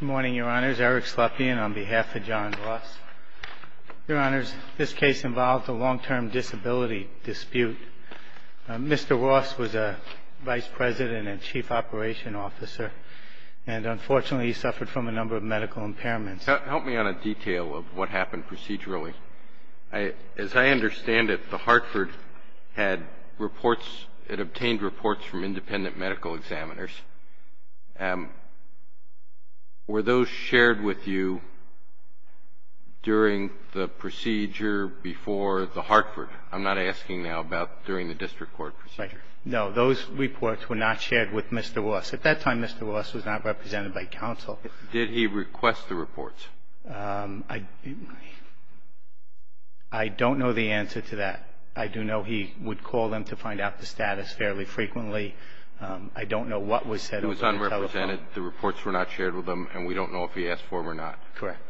Good morning, your honors. Eric Slepian on behalf of John Ross. Your honors, this case involved a long-term disability dispute. Mr. Ross was a vice president and chief operation officer, and unfortunately he suffered from a number of medical impairments. Help me on a detail of what happened procedurally. As I understand it, the Hartford had reports, it obtained reports from independent medical examiners. Were those shared with you during the procedure before the Hartford? I'm not asking now about during the district court procedure. No, those reports were not shared with Mr. Ross. At that time, Mr. Ross was not represented by counsel. Did he request the reports? I don't know the answer to that. I do know he would call them to find out the status fairly frequently. I don't know what was said over the telephone. It was unrepresented. The reports were not shared with him, and we don't know if he asked for them or not. Correct.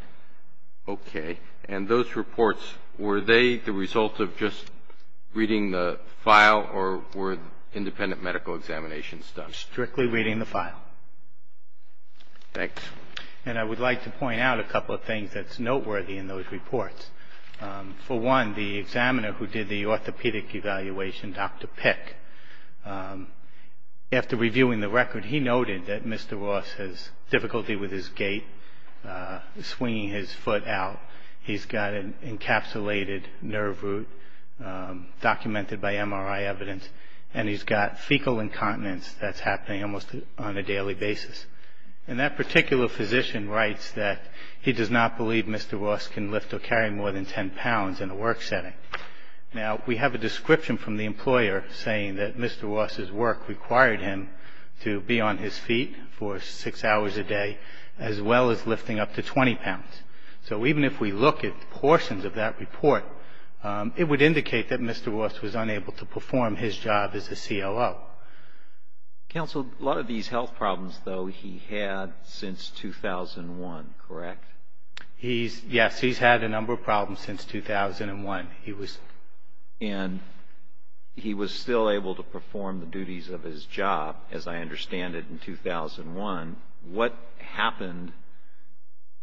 Okay. And those reports, were they the result of just reading the file, or were independent medical examinations done? They were strictly reading the file. Thanks. And I would like to point out a couple of things that's noteworthy in those reports. For one, the examiner who did the orthopedic evaluation, Dr. Pick, after reviewing the record, he noted that Mr. Ross has difficulty with his gait, swinging his foot out. He's got an encapsulated nerve root documented by MRI evidence, and he's got fecal incontinence that's happening almost on a daily basis. And that particular physician writes that he does not believe Mr. Ross can lift or carry more than 10 pounds in a work setting. Now, we have a description from the employer saying that Mr. Ross's work required him to be on his feet for six hours a day, as well as lifting up to 20 pounds. So even if we look at portions of that report, it would indicate that Mr. Ross was unable to perform his job as a COO. Counsel, a lot of these health problems, though, he had since 2001. Correct? Yes. He's had a number of problems since 2001. And he was still able to perform the duties of his job, as I understand it, in 2001. What happened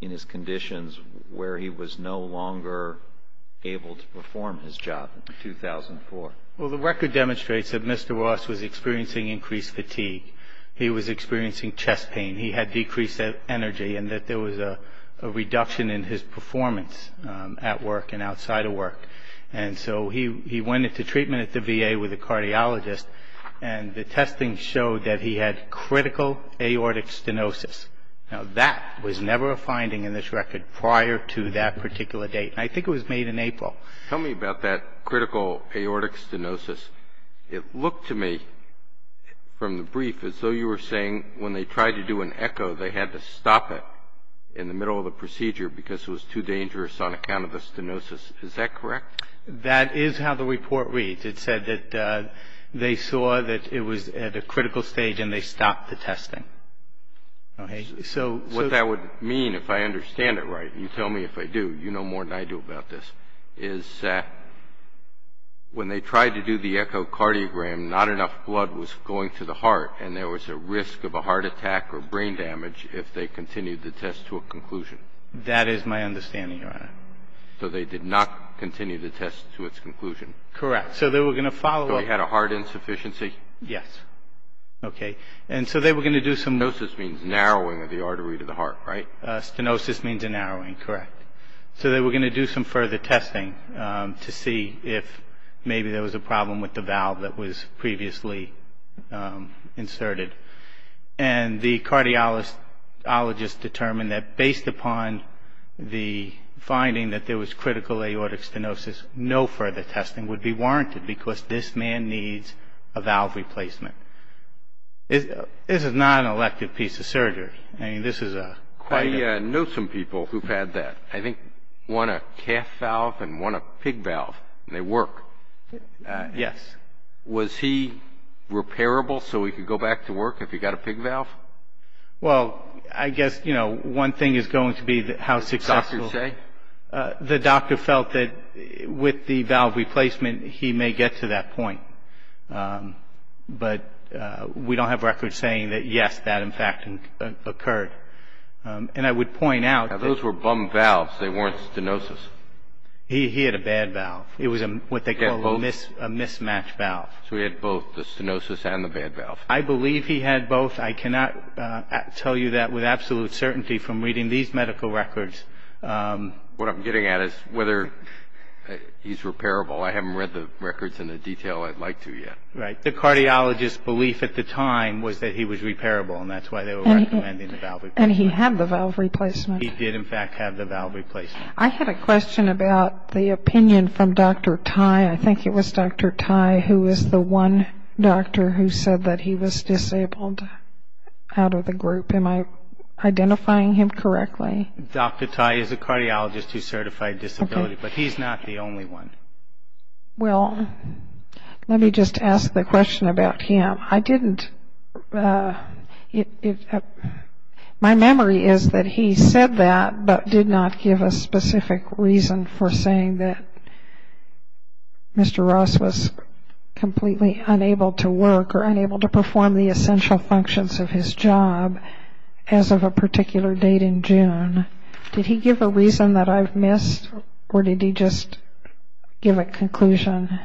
in his conditions where he was no longer able to perform his job in 2004? Well, the record demonstrates that Mr. Ross was experiencing increased fatigue. He was experiencing chest pain. He had decreased energy, and that there was a reduction in his performance at work and outside of work. And so he went into treatment at the VA with a cardiologist, and the testing showed that he had critical aortic stenosis. Now, that was never a finding in this record prior to that particular date. I think it was made in April. Tell me about that critical aortic stenosis. It looked to me from the brief as though you were saying when they tried to do an echo, they had to stop it in the middle of the procedure because it was too dangerous on account of the stenosis. Is that correct? That is how the report reads. It said that they saw that it was at a critical stage, and they stopped the testing. Okay. What that would mean, if I understand it right, and you tell me if I do, you know more than I do about this, is that when they tried to do the echocardiogram, not enough blood was going to the heart, and there was a risk of a heart attack or brain damage if they continued the test to a conclusion. That is my understanding, Your Honor. So they did not continue the test to its conclusion. Correct. So they were going to follow up. So he had a heart insufficiency? Yes. Okay. And so they were going to do some. Stenosis means narrowing of the artery to the heart, right? Stenosis means a narrowing. Correct. So they were going to do some further testing to see if maybe there was a problem with the valve that was previously inserted. And the cardiologist determined that based upon the finding that there was critical aortic stenosis, no further testing would be warranted because this man needs a valve replacement. This is not an elective piece of surgery. I mean, this is a quite a... I know some people who've had that. I think one a calf valve and one a pig valve, and they work. Yes. Was he repairable so he could go back to work if he got a pig valve? Well, I guess, you know, one thing is going to be how successful... What did the doctor say? The doctor felt that with the valve replacement he may get to that point. But we don't have records saying that, yes, that in fact occurred. And I would point out that... Those were bum valves. They weren't stenosis. He had a bad valve. It was what they call a mismatched valve. So he had both the stenosis and the bad valve. I believe he had both. I cannot tell you that with absolute certainty from reading these medical records. What I'm getting at is whether he's repairable. I haven't read the records in the detail I'd like to yet. Right. The cardiologist's belief at the time was that he was repairable, and that's why they were recommending the valve replacement. And he had the valve replacement. He did, in fact, have the valve replacement. I had a question about the opinion from Dr. Tai. I think it was Dr. Tai who was the one doctor who said that he was disabled out of the group. Am I identifying him correctly? Dr. Tai is a cardiologist who's certified disability, but he's not the only one. Well, let me just ask the question about him. I didn't. My memory is that he said that, but did not give a specific reason for saying that Mr. Ross was completely unable to work or unable to perform the essential functions of his job as of a particular date in June. Did he give a reason that I've missed, or did he just give a conclusion?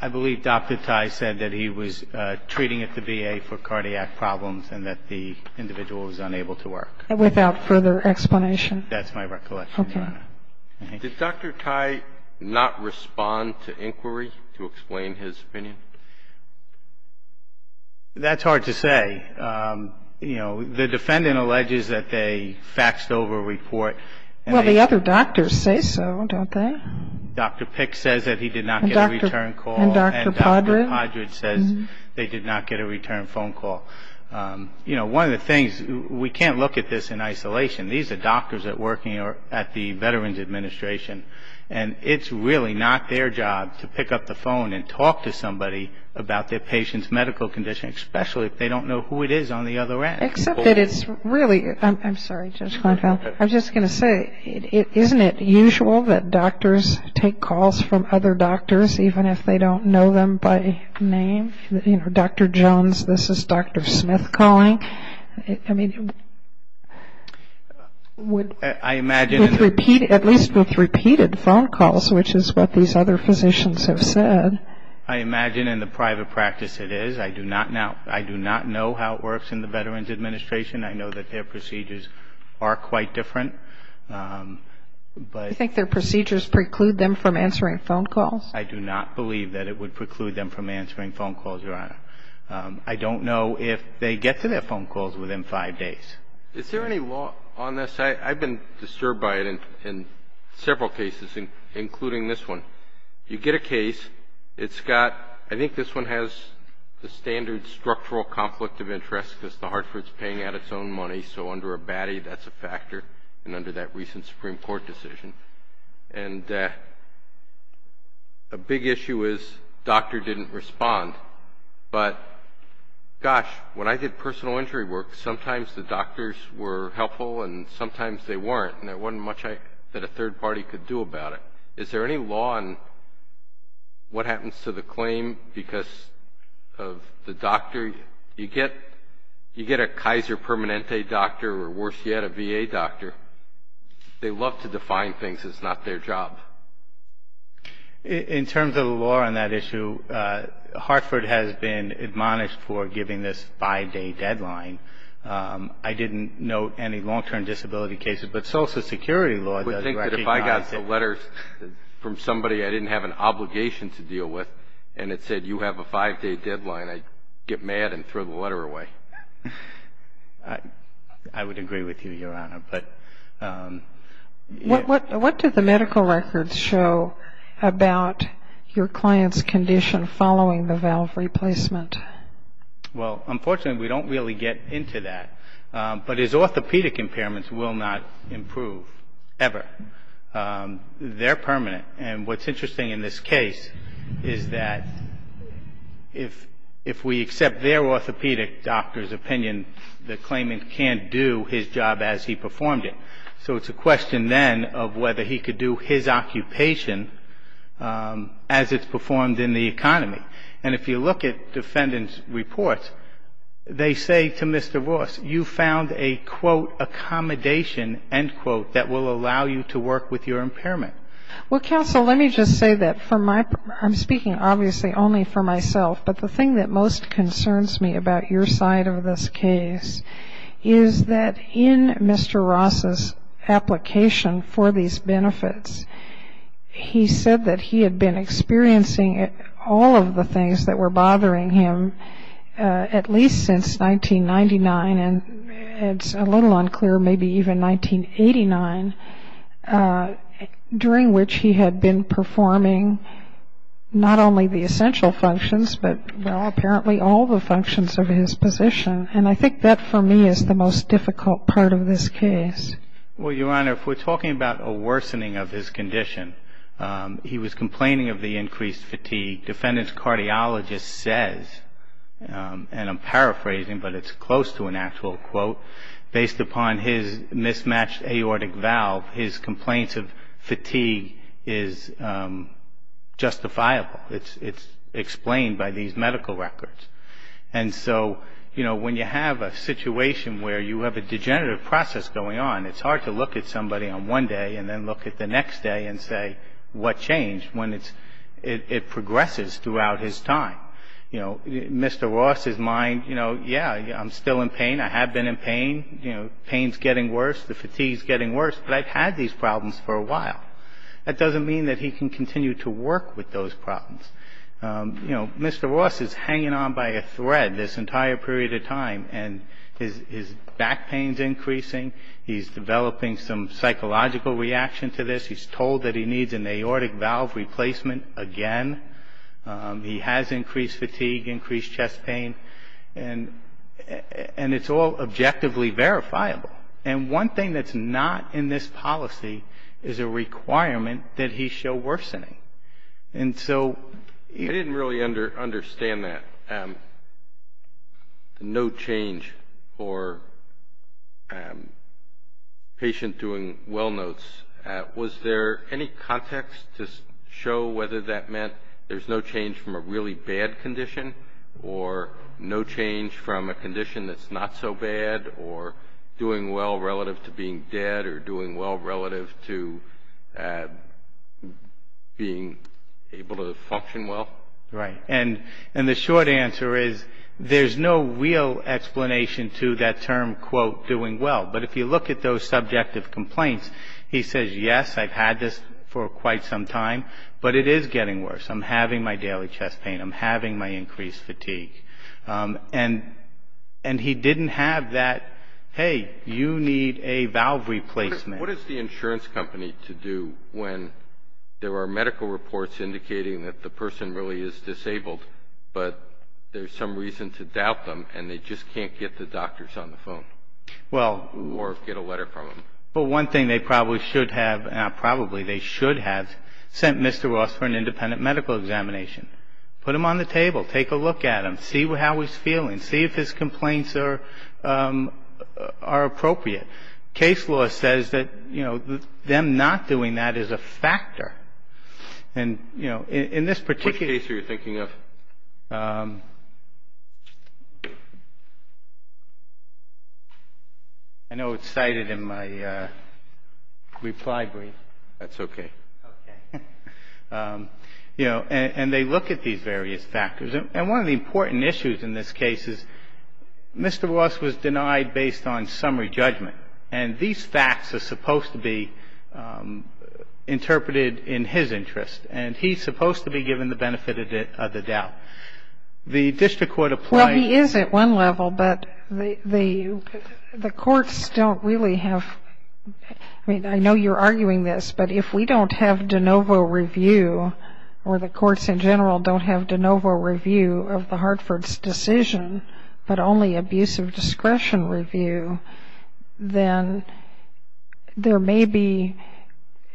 I believe Dr. Tai said that he was treating at the VA for cardiac problems and that the individual was unable to work. Without further explanation? That's my recollection, Your Honor. Okay. Did Dr. Tai not respond to inquiry to explain his opinion? That's hard to say. You know, the defendant alleges that they faxed over a report. Well, the other doctors say so, don't they? Dr. Pick says that he did not get a return call. And Dr. Podrud? And Dr. Podrud says they did not get a return phone call. You know, one of the things, we can't look at this in isolation. These are doctors that are working at the Veterans Administration, and it's really not their job to pick up the phone and talk to somebody about their patient's medical condition, especially if they don't know who it is on the other end. Except that it's really, I'm sorry, Judge Kleinfeld, I'm just going to say, isn't it usual that doctors take calls from other doctors, even if they don't know them by name? You know, Dr. Jones, this is Dr. Smith calling. I mean, with repeated phone calls, which is what these other physicians have said. I imagine in the private practice it is. I do not know how it works in the Veterans Administration. I know that their procedures are quite different. Do you think their procedures preclude them from answering phone calls? I do not believe that it would preclude them from answering phone calls, Your Honor. I don't know if they get to their phone calls within five days. Is there any law on this? I've been disturbed by it in several cases, including this one. You get a case. It's got, I think this one has the standard structural conflict of interest because the Hartford's paying out its own money, so under a baddie that's a factor, and under that recent Supreme Court decision. And a big issue is doctor didn't respond. But, gosh, when I did personal injury work, sometimes the doctors were helpful and sometimes they weren't, and there wasn't much that a third party could do about it. Is there any law on what happens to the claim because of the doctor? You get a Kaiser Permanente doctor or, worse yet, a VA doctor. They love to define things. It's not their job. In terms of the law on that issue, Hartford has been admonished for giving this five-day deadline. I didn't note any long-term disability cases, but Social Security law does recognize it. I would think that if I got the letters from somebody I didn't have an obligation to deal with and it said, you have a five-day deadline, I'd get mad and throw the letter away. I would agree with you, Your Honor. What did the medical records show about your client's condition following the valve replacement? Well, unfortunately, we don't really get into that. But his orthopedic impairments will not improve, ever. They're permanent. And what's interesting in this case is that if we accept their orthopedic doctor's opinion, the claimant can't do his job as he performed it. So it's a question then of whether he could do his occupation as it's performed in the economy. And if you look at defendants' reports, they say to Mr. Ross, you found a, quote, accommodation, end quote, that will allow you to work with your impairment. Well, counsel, let me just say that I'm speaking obviously only for myself, but the thing that most concerns me about your side of this case is that in Mr. Ross's application for these benefits, he said that he had been experiencing all of the things that were bothering him at least since 1999, and it's a little unclear, maybe even 1989, during which he had been performing not only the essential functions, but apparently all the functions of his position. And I think that, for me, is the most difficult part of this case. Well, Your Honor, if we're talking about a worsening of his condition, he was complaining of the increased fatigue. Defendant's cardiologist says, and I'm paraphrasing, but it's close to an actual quote, based upon his mismatched aortic valve, his complaints of fatigue is justifiable. It's explained by these medical records. And so, you know, when you have a situation where you have a degenerative process going on, it's hard to look at somebody on one day and then look at the next day and say what changed when it progresses throughout his time. You know, Mr. Ross's mind, you know, yeah, I'm still in pain. I have been in pain. You know, pain's getting worse. The fatigue's getting worse, but I've had these problems for a while. That doesn't mean that he can continue to work with those problems. You know, Mr. Ross is hanging on by a thread this entire period of time, and his back pain's increasing. He's developing some psychological reaction to this. He's told that he needs an aortic valve replacement again. He has increased fatigue, increased chest pain, and it's all objectively verifiable. And one thing that's not in this policy is a requirement that he show worsening. I didn't really understand that, no change for patient doing well notes. Was there any context to show whether that meant there's no change from a really bad condition or no change from a condition that's not so bad or doing well relative to being dead or doing well relative to being able to function well? Right. And the short answer is there's no real explanation to that term, quote, doing well. But if you look at those subjective complaints, he says, yes, I've had this for quite some time, but it is getting worse. I'm having my daily chest pain. I'm having my increased fatigue. And he didn't have that, hey, you need a valve replacement. What is the insurance company to do when there are medical reports indicating that the person really is disabled, but there's some reason to doubt them and they just can't get the doctors on the phone or get a letter from them? Well, one thing they probably should have, and probably they should have sent Mr. Ross for an independent medical examination. Put him on the table. Take a look at him. See how he's feeling. See if his complaints are appropriate. Case law says that, you know, them not doing that is a factor. And, you know, in this particular case. Which case are you thinking of? I know it's cited in my reply brief. That's okay. Okay. You know, and they look at these various factors. And one of the important issues in this case is Mr. Ross was denied based on summary judgment. And these facts are supposed to be interpreted in his interest. And he's supposed to be given the benefit of the doubt. The district court applies. Well, he is at one level, but the courts don't really have, I mean, I know you're arguing this, but if we don't have de novo review, or the courts in general don't have de novo review of the Hartford's decision, but only abusive discretion review, then there may be,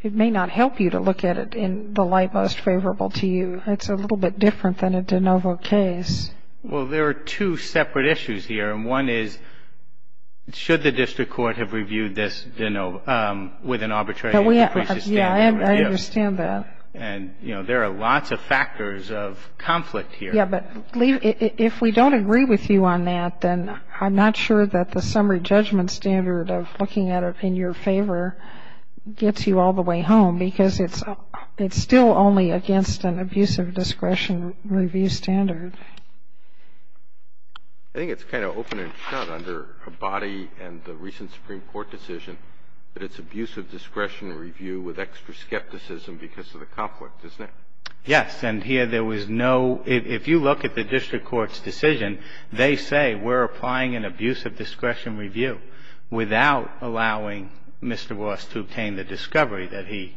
it may not help you to look at it in the light most favorable to you. It's a little bit different than a de novo case. Well, there are two separate issues here. And one is, should the district court have reviewed this, you know, with an arbitrary appraisal standard? Yeah, I understand that. And, you know, there are lots of factors of conflict here. Yeah, but if we don't agree with you on that, then I'm not sure that the summary judgment standard of looking at it in your favor gets you all the way home, because it's still only against an abusive discretion review standard. I think it's kind of open and shut under Abadi and the recent Supreme Court decision that it's abusive discretion review with extra skepticism because of the conflict, isn't it? Yes. And here there was no, if you look at the district court's decision, they say we're applying an abusive discretion review without allowing Mr. Ross to obtain the discovery that he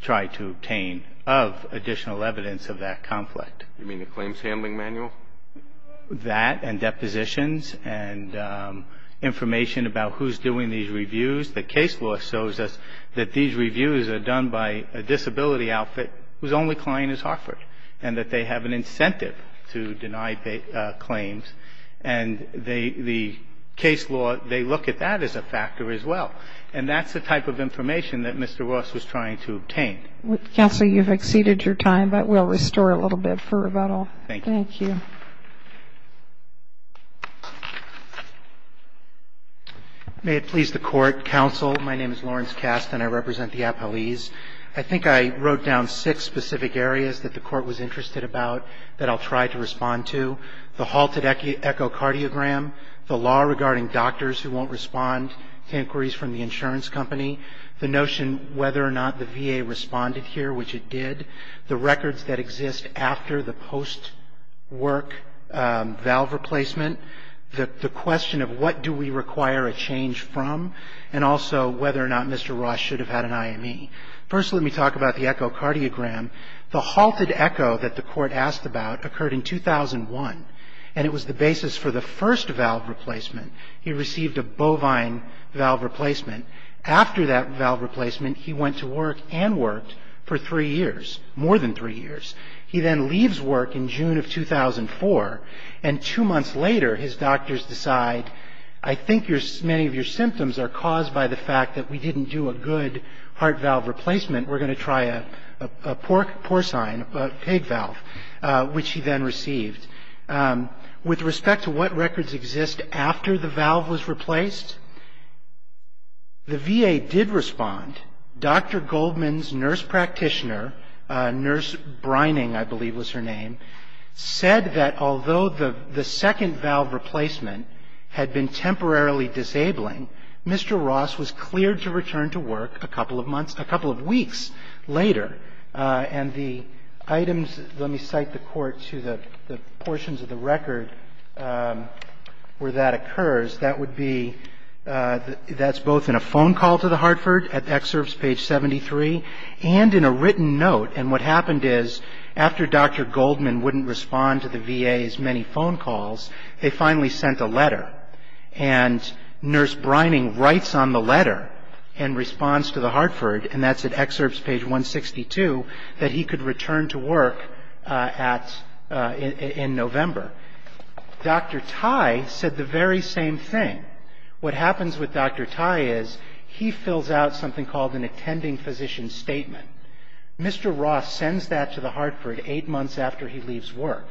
tried to obtain of additional evidence of that conflict. You mean the claims handling manual? That and depositions and information about who's doing these reviews. The case law shows us that these reviews are done by a disability outfit whose only client is Hartford and that they have an incentive to deny claims. And the case law, they look at that as a factor as well. And that's the type of information that Mr. Ross was trying to obtain. Counsel, you've exceeded your time, but we'll restore a little bit for rebuttal. Thank you. Thank you. May it please the Court. Counsel, my name is Lawrence Kast and I represent the appellees. I think I wrote down six specific areas that the Court was interested about that I'll try to respond to. The halted echocardiogram, the law regarding doctors who won't respond to inquiries from the insurance company, the notion whether or not the VA responded here, which it did, the records that exist after the post-work valve replacement, the question of what do we require a change from, and also whether or not Mr. Ross should have had an IME. First, let me talk about the echocardiogram. The halted echo that the Court asked about occurred in 2001, and it was the basis for the first valve replacement. He received a bovine valve replacement. After that valve replacement, he went to work and worked for three years, more than three years. He then leaves work in June of 2004, and two months later his doctors decide, I think many of your symptoms are caused by the fact that we didn't do a good heart valve replacement. We're going to try a porcine, a pig valve, which he then received. With respect to what records exist after the valve was replaced, the VA did respond. Dr. Goldman's nurse practitioner, Nurse Brining, I believe was her name, said that although the second valve replacement had been temporarily disabling, Mr. Ross was cleared to return to work a couple of months, a couple of weeks later. And the items, let me cite the Court to the portions of the record where that occurs. That would be, that's both in a phone call to the Hartford at excerpts page 73 and in a written note. And what happened is after Dr. Goldman wouldn't respond to the VA's many phone calls, they finally sent a letter. And Nurse Brining writes on the letter in response to the Hartford, and that's at excerpts page 162, that he could return to work in November. Dr. Tye said the very same thing. What happens with Dr. Tye is he fills out something called an attending physician statement. Mr. Ross sends that to the Hartford eight months after he leaves work.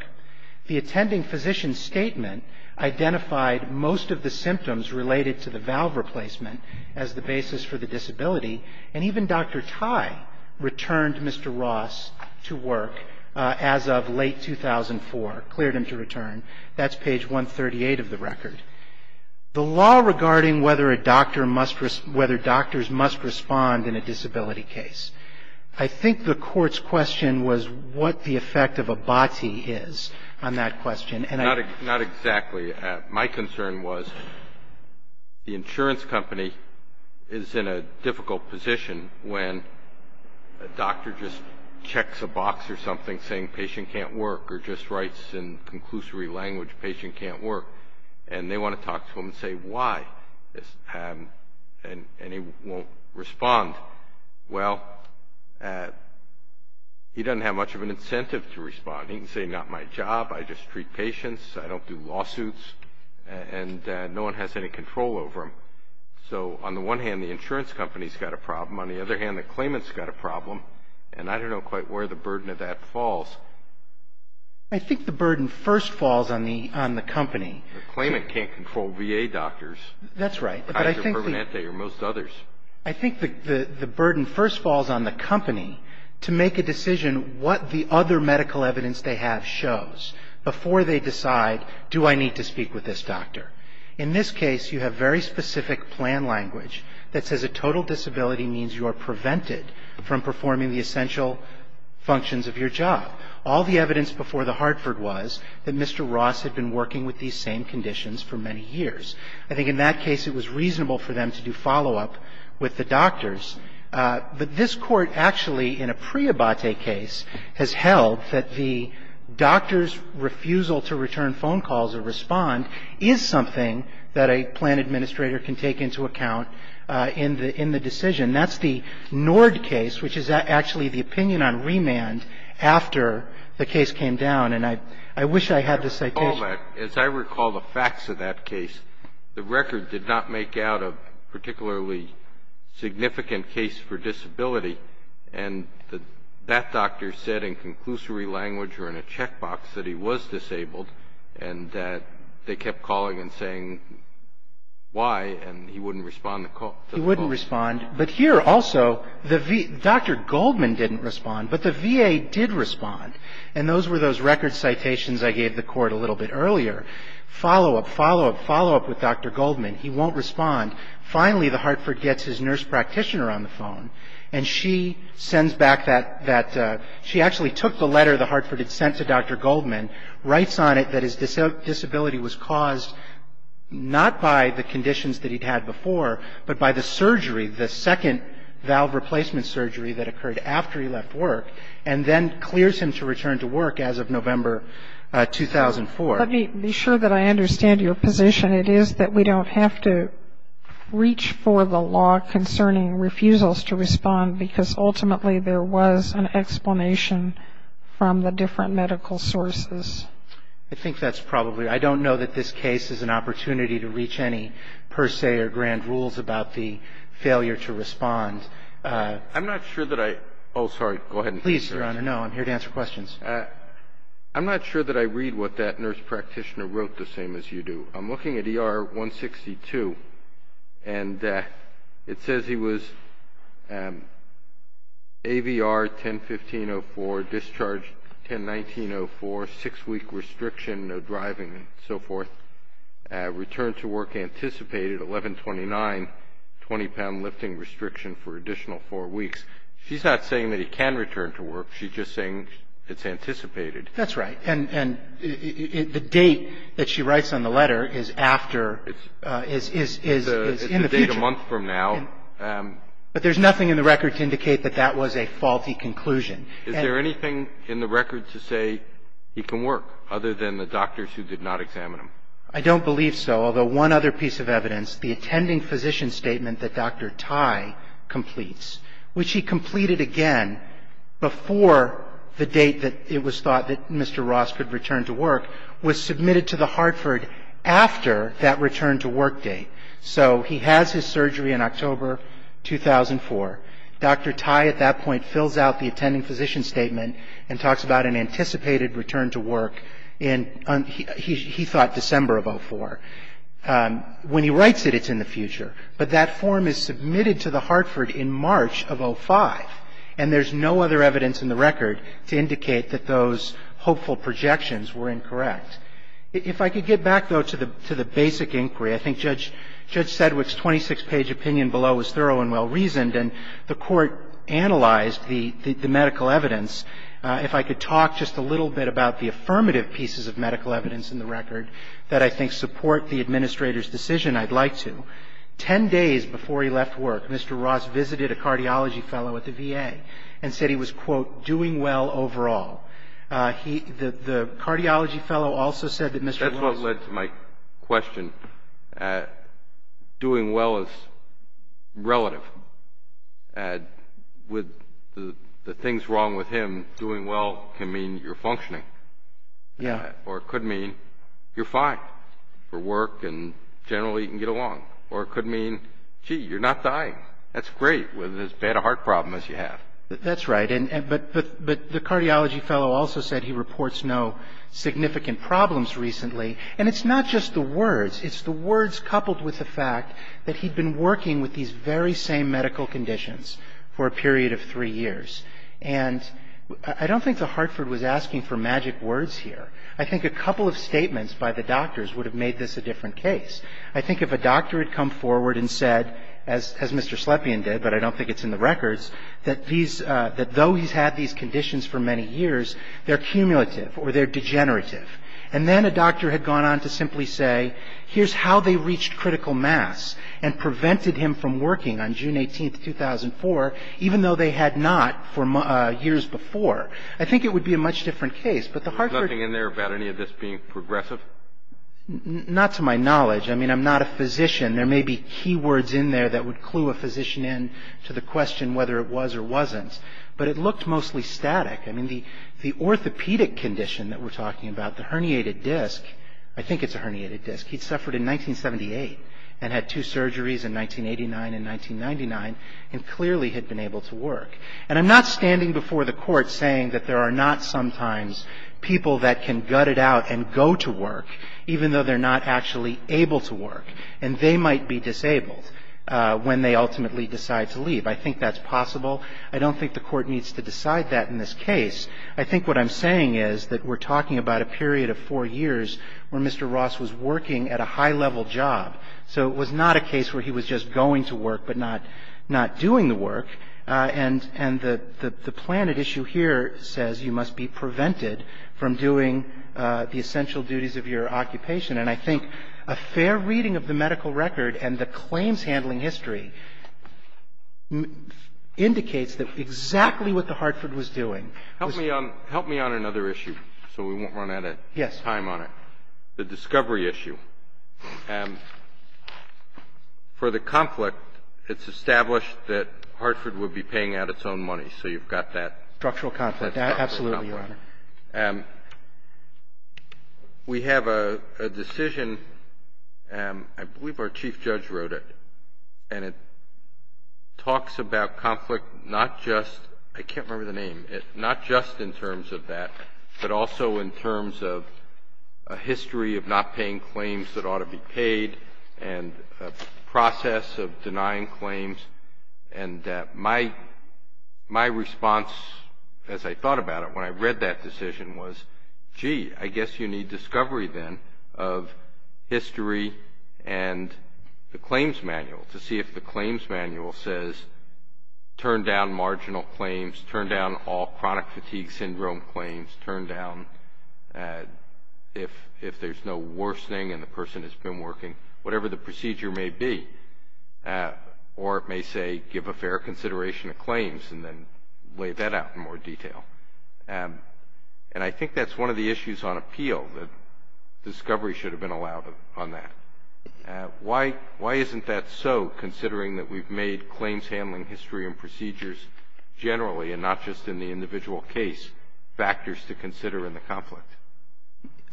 The attending physician statement identified most of the symptoms related to the valve replacement as the basis for the disability. And even Dr. Tye returned Mr. Ross to work as of late 2004, cleared him to return. That's page 138 of the record. The law regarding whether a doctor must, whether doctors must respond in a disability case. I think the Court's question was what the effect of a BOTI is on that question. Not exactly. My concern was the insurance company is in a difficult position when a doctor just checks a box or something saying patient can't work or just writes in conclusory language patient can't work. And they want to talk to him and say why, and he won't respond. Well, he doesn't have much of an incentive to respond. He can say not my job, I just treat patients, I don't do lawsuits, and no one has any control over him. So on the one hand, the insurance company's got a problem. On the other hand, the claimant's got a problem. And I don't know quite where the burden of that falls. I think the burden first falls on the company. The claimant can't control VA doctors. That's right. Kaiser Permanente or most others. I think the burden first falls on the company to make a decision what the other medical evidence they have shows before they decide do I need to speak with this doctor. In this case, you have very specific plan language that says a total disability means you are prevented from performing the essential functions of your job. All the evidence before the Hartford was that Mr. Ross had been working with these same conditions for many years. I think in that case it was reasonable for them to do follow-up with the doctors. But this Court actually, in a preabate case, has held that the doctor's refusal to return phone calls or respond is something that a plan administrator can take into account in the decision. That's the Nord case, which is actually the opinion on remand after the case came down. And I wish I had the citation. Well, as I recall the facts of that case, the record did not make out a particularly significant case for disability. And that doctor said in conclusory language or in a checkbox that he was disabled and that they kept calling and saying why, and he wouldn't respond to the call. He wouldn't respond. But here also, Dr. Goldman didn't respond, but the VA did respond. And those were those record citations I gave the Court a little bit earlier. Follow-up, follow-up, follow-up with Dr. Goldman. He won't respond. Finally, the Hartford gets his nurse practitioner on the phone, and she sends back that – she actually took the letter the Hartford had sent to Dr. Goldman, writes on it that his disability was caused not by the conditions that he'd had before, but by the surgery, the second valve replacement surgery that occurred after he left work, and then clears him to return to work as of November 2004. Let me be sure that I understand your position. It is that we don't have to reach for the law concerning refusals to respond, because ultimately there was an explanation from the different medical sources. I think that's probably – I don't know that this case is an opportunity to reach any per se or grand rules about the failure to respond. I'm not sure that I – oh, sorry, go ahead. Please, Your Honor. No, I'm here to answer questions. I'm not sure that I read what that nurse practitioner wrote the same as you do. I'm looking at ER 162, and it says he was AVR 10-15-04, discharge 10-19-04, six-week restriction, no driving and so forth, return to work anticipated, 11-29, 20-pound lifting restriction for additional four weeks. She's not saying that he can return to work. She's just saying it's anticipated. That's right. And the date that she writes on the letter is after – is in the future. It's a month from now. But there's nothing in the record to indicate that that was a faulty conclusion. Is there anything in the record to say he can work, other than the doctors who did not examine him? I don't believe so. Although one other piece of evidence, the attending physician statement that Dr. Tai completes, which he completed again before the date that it was thought that Mr. Ross could return to work, was submitted to the Hartford after that return to work date. So he has his surgery in October 2004. Dr. Tai at that point fills out the attending physician statement and talks about an anticipated return to work in, he thought, December of 04. When he writes it, it's in the future. But that form is submitted to the Hartford in March of 05. And there's no other evidence in the record to indicate that those hopeful projections were incorrect. If I could get back, though, to the basic inquiry. I think Judge Sedgwick's 26-page opinion below was thorough and well-reasoned, and the Court analyzed the medical evidence. If I could talk just a little bit about the affirmative pieces of medical evidence in the record that I think support the administrator's decision, I'd like to. Ten days before he left work, Mr. Ross visited a cardiology fellow at the VA and said he was, quote, doing well overall. The cardiology fellow also said that Mr. Ross was doing well. That's what led to my question. Doing well is relative. With the things wrong with him, doing well can mean you're functioning. Yeah. Or it could mean you're fine for work and generally you can get along. Or it could mean, gee, you're not dying. That's great with as bad a heart problem as you have. That's right. But the cardiology fellow also said he reports no significant problems recently. And it's not just the words. It's the words coupled with the fact that he'd been working with these very same medical conditions for a period of three years. And I don't think that Hartford was asking for magic words here. I think a couple of statements by the doctors would have made this a different case. I think if a doctor had come forward and said, as Mr. Slepian did, but I don't think it's in the records, that these – that though he's had these conditions for many years, they're cumulative or they're degenerative. And then a doctor had gone on to simply say, here's how they reached critical mass and prevented him from working on June 18th, 2004, even though they had not for years before. I think it would be a much different case. There's nothing in there about any of this being progressive? Not to my knowledge. I mean, I'm not a physician. There may be key words in there that would clue a physician in to the question whether it was or wasn't. But it looked mostly static. I mean, the orthopedic condition that we're talking about, the herniated disc, I think it's a herniated disc. He'd suffered in 1978 and had two surgeries in 1989 and 1999 and clearly had been able to work. And I'm not standing before the Court saying that there are not sometimes people that can gut it out and go to work, even though they're not actually able to work. And they might be disabled when they ultimately decide to leave. I think that's possible. I don't think the Court needs to decide that in this case. I think what I'm saying is that we're talking about a period of four years where Mr. Ross was working at a high-level job. So it was not a case where he was just going to work but not doing the work. And the plan at issue here says you must be prevented from doing the essential duties of your occupation. And I think a fair reading of the medical record and the claims handling history indicates exactly what the Hartford was doing. Help me on another issue so we won't run out of time on it. Yes. The discovery issue. For the conflict, it's established that Hartford would be paying out its own money. So you've got that. Structural conflict. Absolutely, Your Honor. We have a decision. I believe our chief judge wrote it. And it talks about conflict not just ‑‑ I can't remember the name. Not just in terms of that but also in terms of a history of not paying claims that ought to be paid and a process of denying claims. And my response, as I thought about it when I read that decision, was, gee, I guess you need discovery then of history and the claims manual to see if the claims manual says turn down marginal claims, turn down all chronic fatigue syndrome claims, turn down if there's no worsening and the person has been working, whatever the procedure may be. Or it may say give a fair consideration of claims and then lay that out in more detail. And I think that's one of the issues on appeal, that discovery should have been allowed on that. Why isn't that so, considering that we've made claims handling history and procedures generally and not just in the individual case factors to consider in the conflict?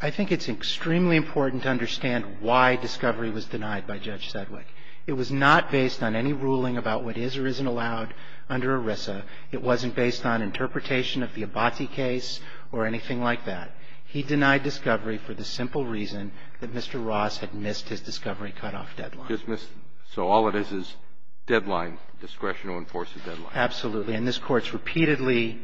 I think it's extremely important to understand why discovery was denied by Judge Sedgwick. It was not based on any ruling about what is or isn't allowed under ERISA. It wasn't based on interpretation of the Abbati case or anything like that. He denied discovery for the simple reason that Mr. Ross had missed his discovery cutoff deadline. So all it is is deadline, discretion to enforce a deadline. Absolutely. And this Court's repeatedly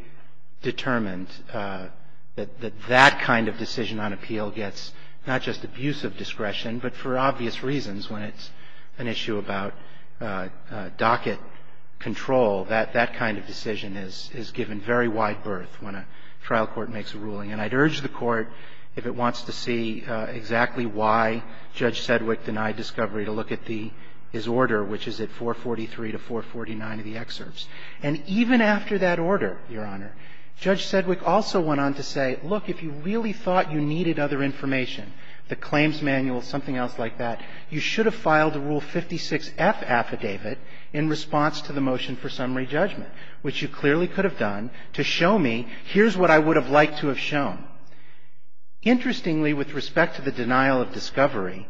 determined that that kind of decision on appeal gets not just abusive discretion, but for obvious reasons when it's an issue about docket control. That kind of decision is given very wide berth when a trial court makes a ruling. And I'd urge the Court, if it wants to see exactly why Judge Sedgwick denied discovery, to look at the order, which is at 443 to 449 of the excerpts. And even after that order, Your Honor, Judge Sedgwick also went on to say, look, if you really thought you needed other information, the claims manual, something else like that, you should have filed a Rule 56F affidavit in response to the motion for summary judgment, which you clearly could have done, to show me here's what I would have liked to have shown. Interestingly, with respect to the denial of discovery,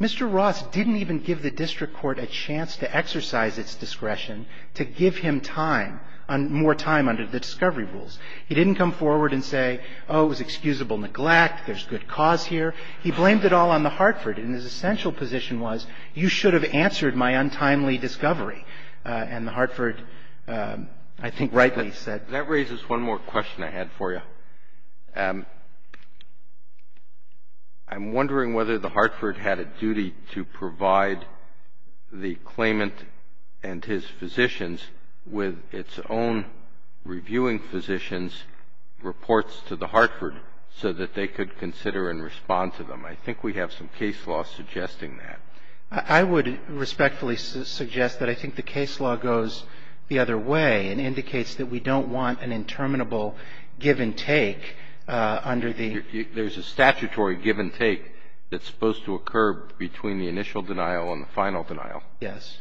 Mr. Ross didn't even give the district court a chance to exercise its discretion to give him time, more time under the discovery rules. He didn't come forward and say, oh, it was excusable neglect, there's good cause here. He blamed it all on the Hartford. And his essential position was, you should have answered my untimely discovery. And the Hartford, I think, rightly said. That raises one more question I had for you. I'm wondering whether the Hartford had a duty to provide the claimant and his physicians with its own reviewing physicians' reports to the Hartford so that they could consider and respond to them. I think we have some case law suggesting that. I would respectfully suggest that I think the case law goes the other way and indicates that we don't want an interminable give and take under the ---- There's a statutory give and take that's supposed to occur between the initial denial and the final denial. Yes.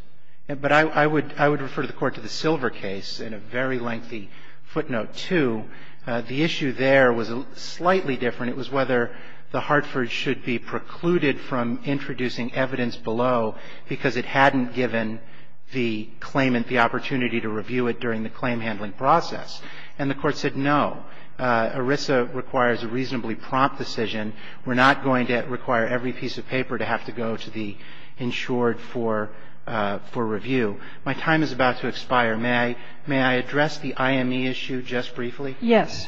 But I would refer the Court to the Silver case in a very lengthy footnote, too. The issue there was slightly different. It was whether the Hartford should be precluded from introducing evidence below because it hadn't given the claimant the opportunity to review it during the claim handling process. And the Court said no. ERISA requires a reasonably prompt decision. We're not going to require every piece of paper to have to go to the insured for review. My time is about to expire. May I address the IME issue just briefly? Yes.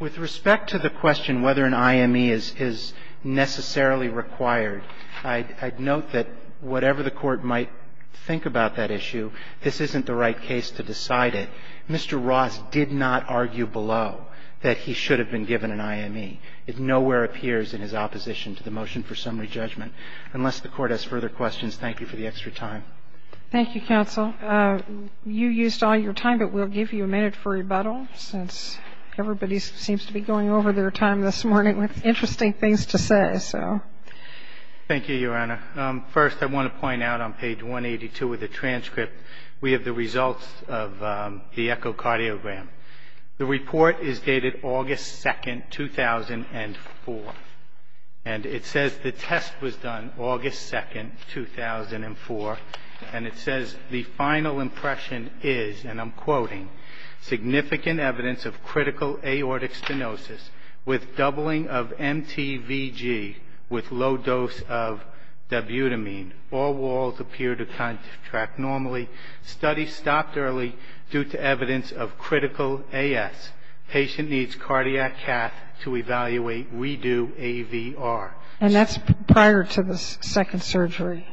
With respect to the question whether an IME is necessarily required, I'd note that whatever the Court might think about that issue, this isn't the right case to decide it. Mr. Ross did not argue below that he should have been given an IME. It nowhere appears in his opposition to the motion for summary judgment. Unless the Court has further questions, thank you for the extra time. Thank you, counsel. You used all your time, but we'll give you a minute for rebuttal since everybody seems to be going over their time this morning with interesting things to say, so. Thank you, Your Honor. First, I want to point out on page 182 of the transcript, we have the results of the echocardiogram. The report is dated August 2nd, 2004, and it says the test was done August 2nd, 2004, and it says the final impression is, and I'm quoting, significant evidence of critical aortic stenosis with doubling of MTVG with low dose of dabutamine. All walls appear to contract normally. Study stopped early due to evidence of critical AS. Patient needs cardiac cath to evaluate. Redo AVR. And that's prior to the second surgery.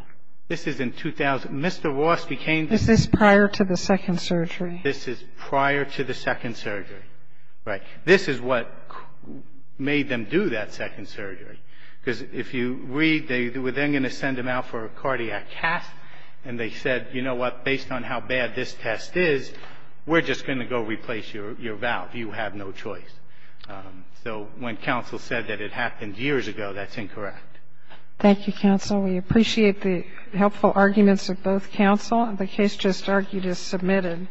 This is in 2000. Mr. Ross became. This is prior to the second surgery. This is prior to the second surgery. Right. This is what made them do that second surgery, because if you read, they were then going to send him out for a cardiac cath, and they said, you know what, based on how bad this test is, we're just going to go replace your valve. You have no choice. So when counsel said that it happened years ago, that's incorrect. Thank you, counsel. We appreciate the helpful arguments of both counsel. The case just argued is submitted.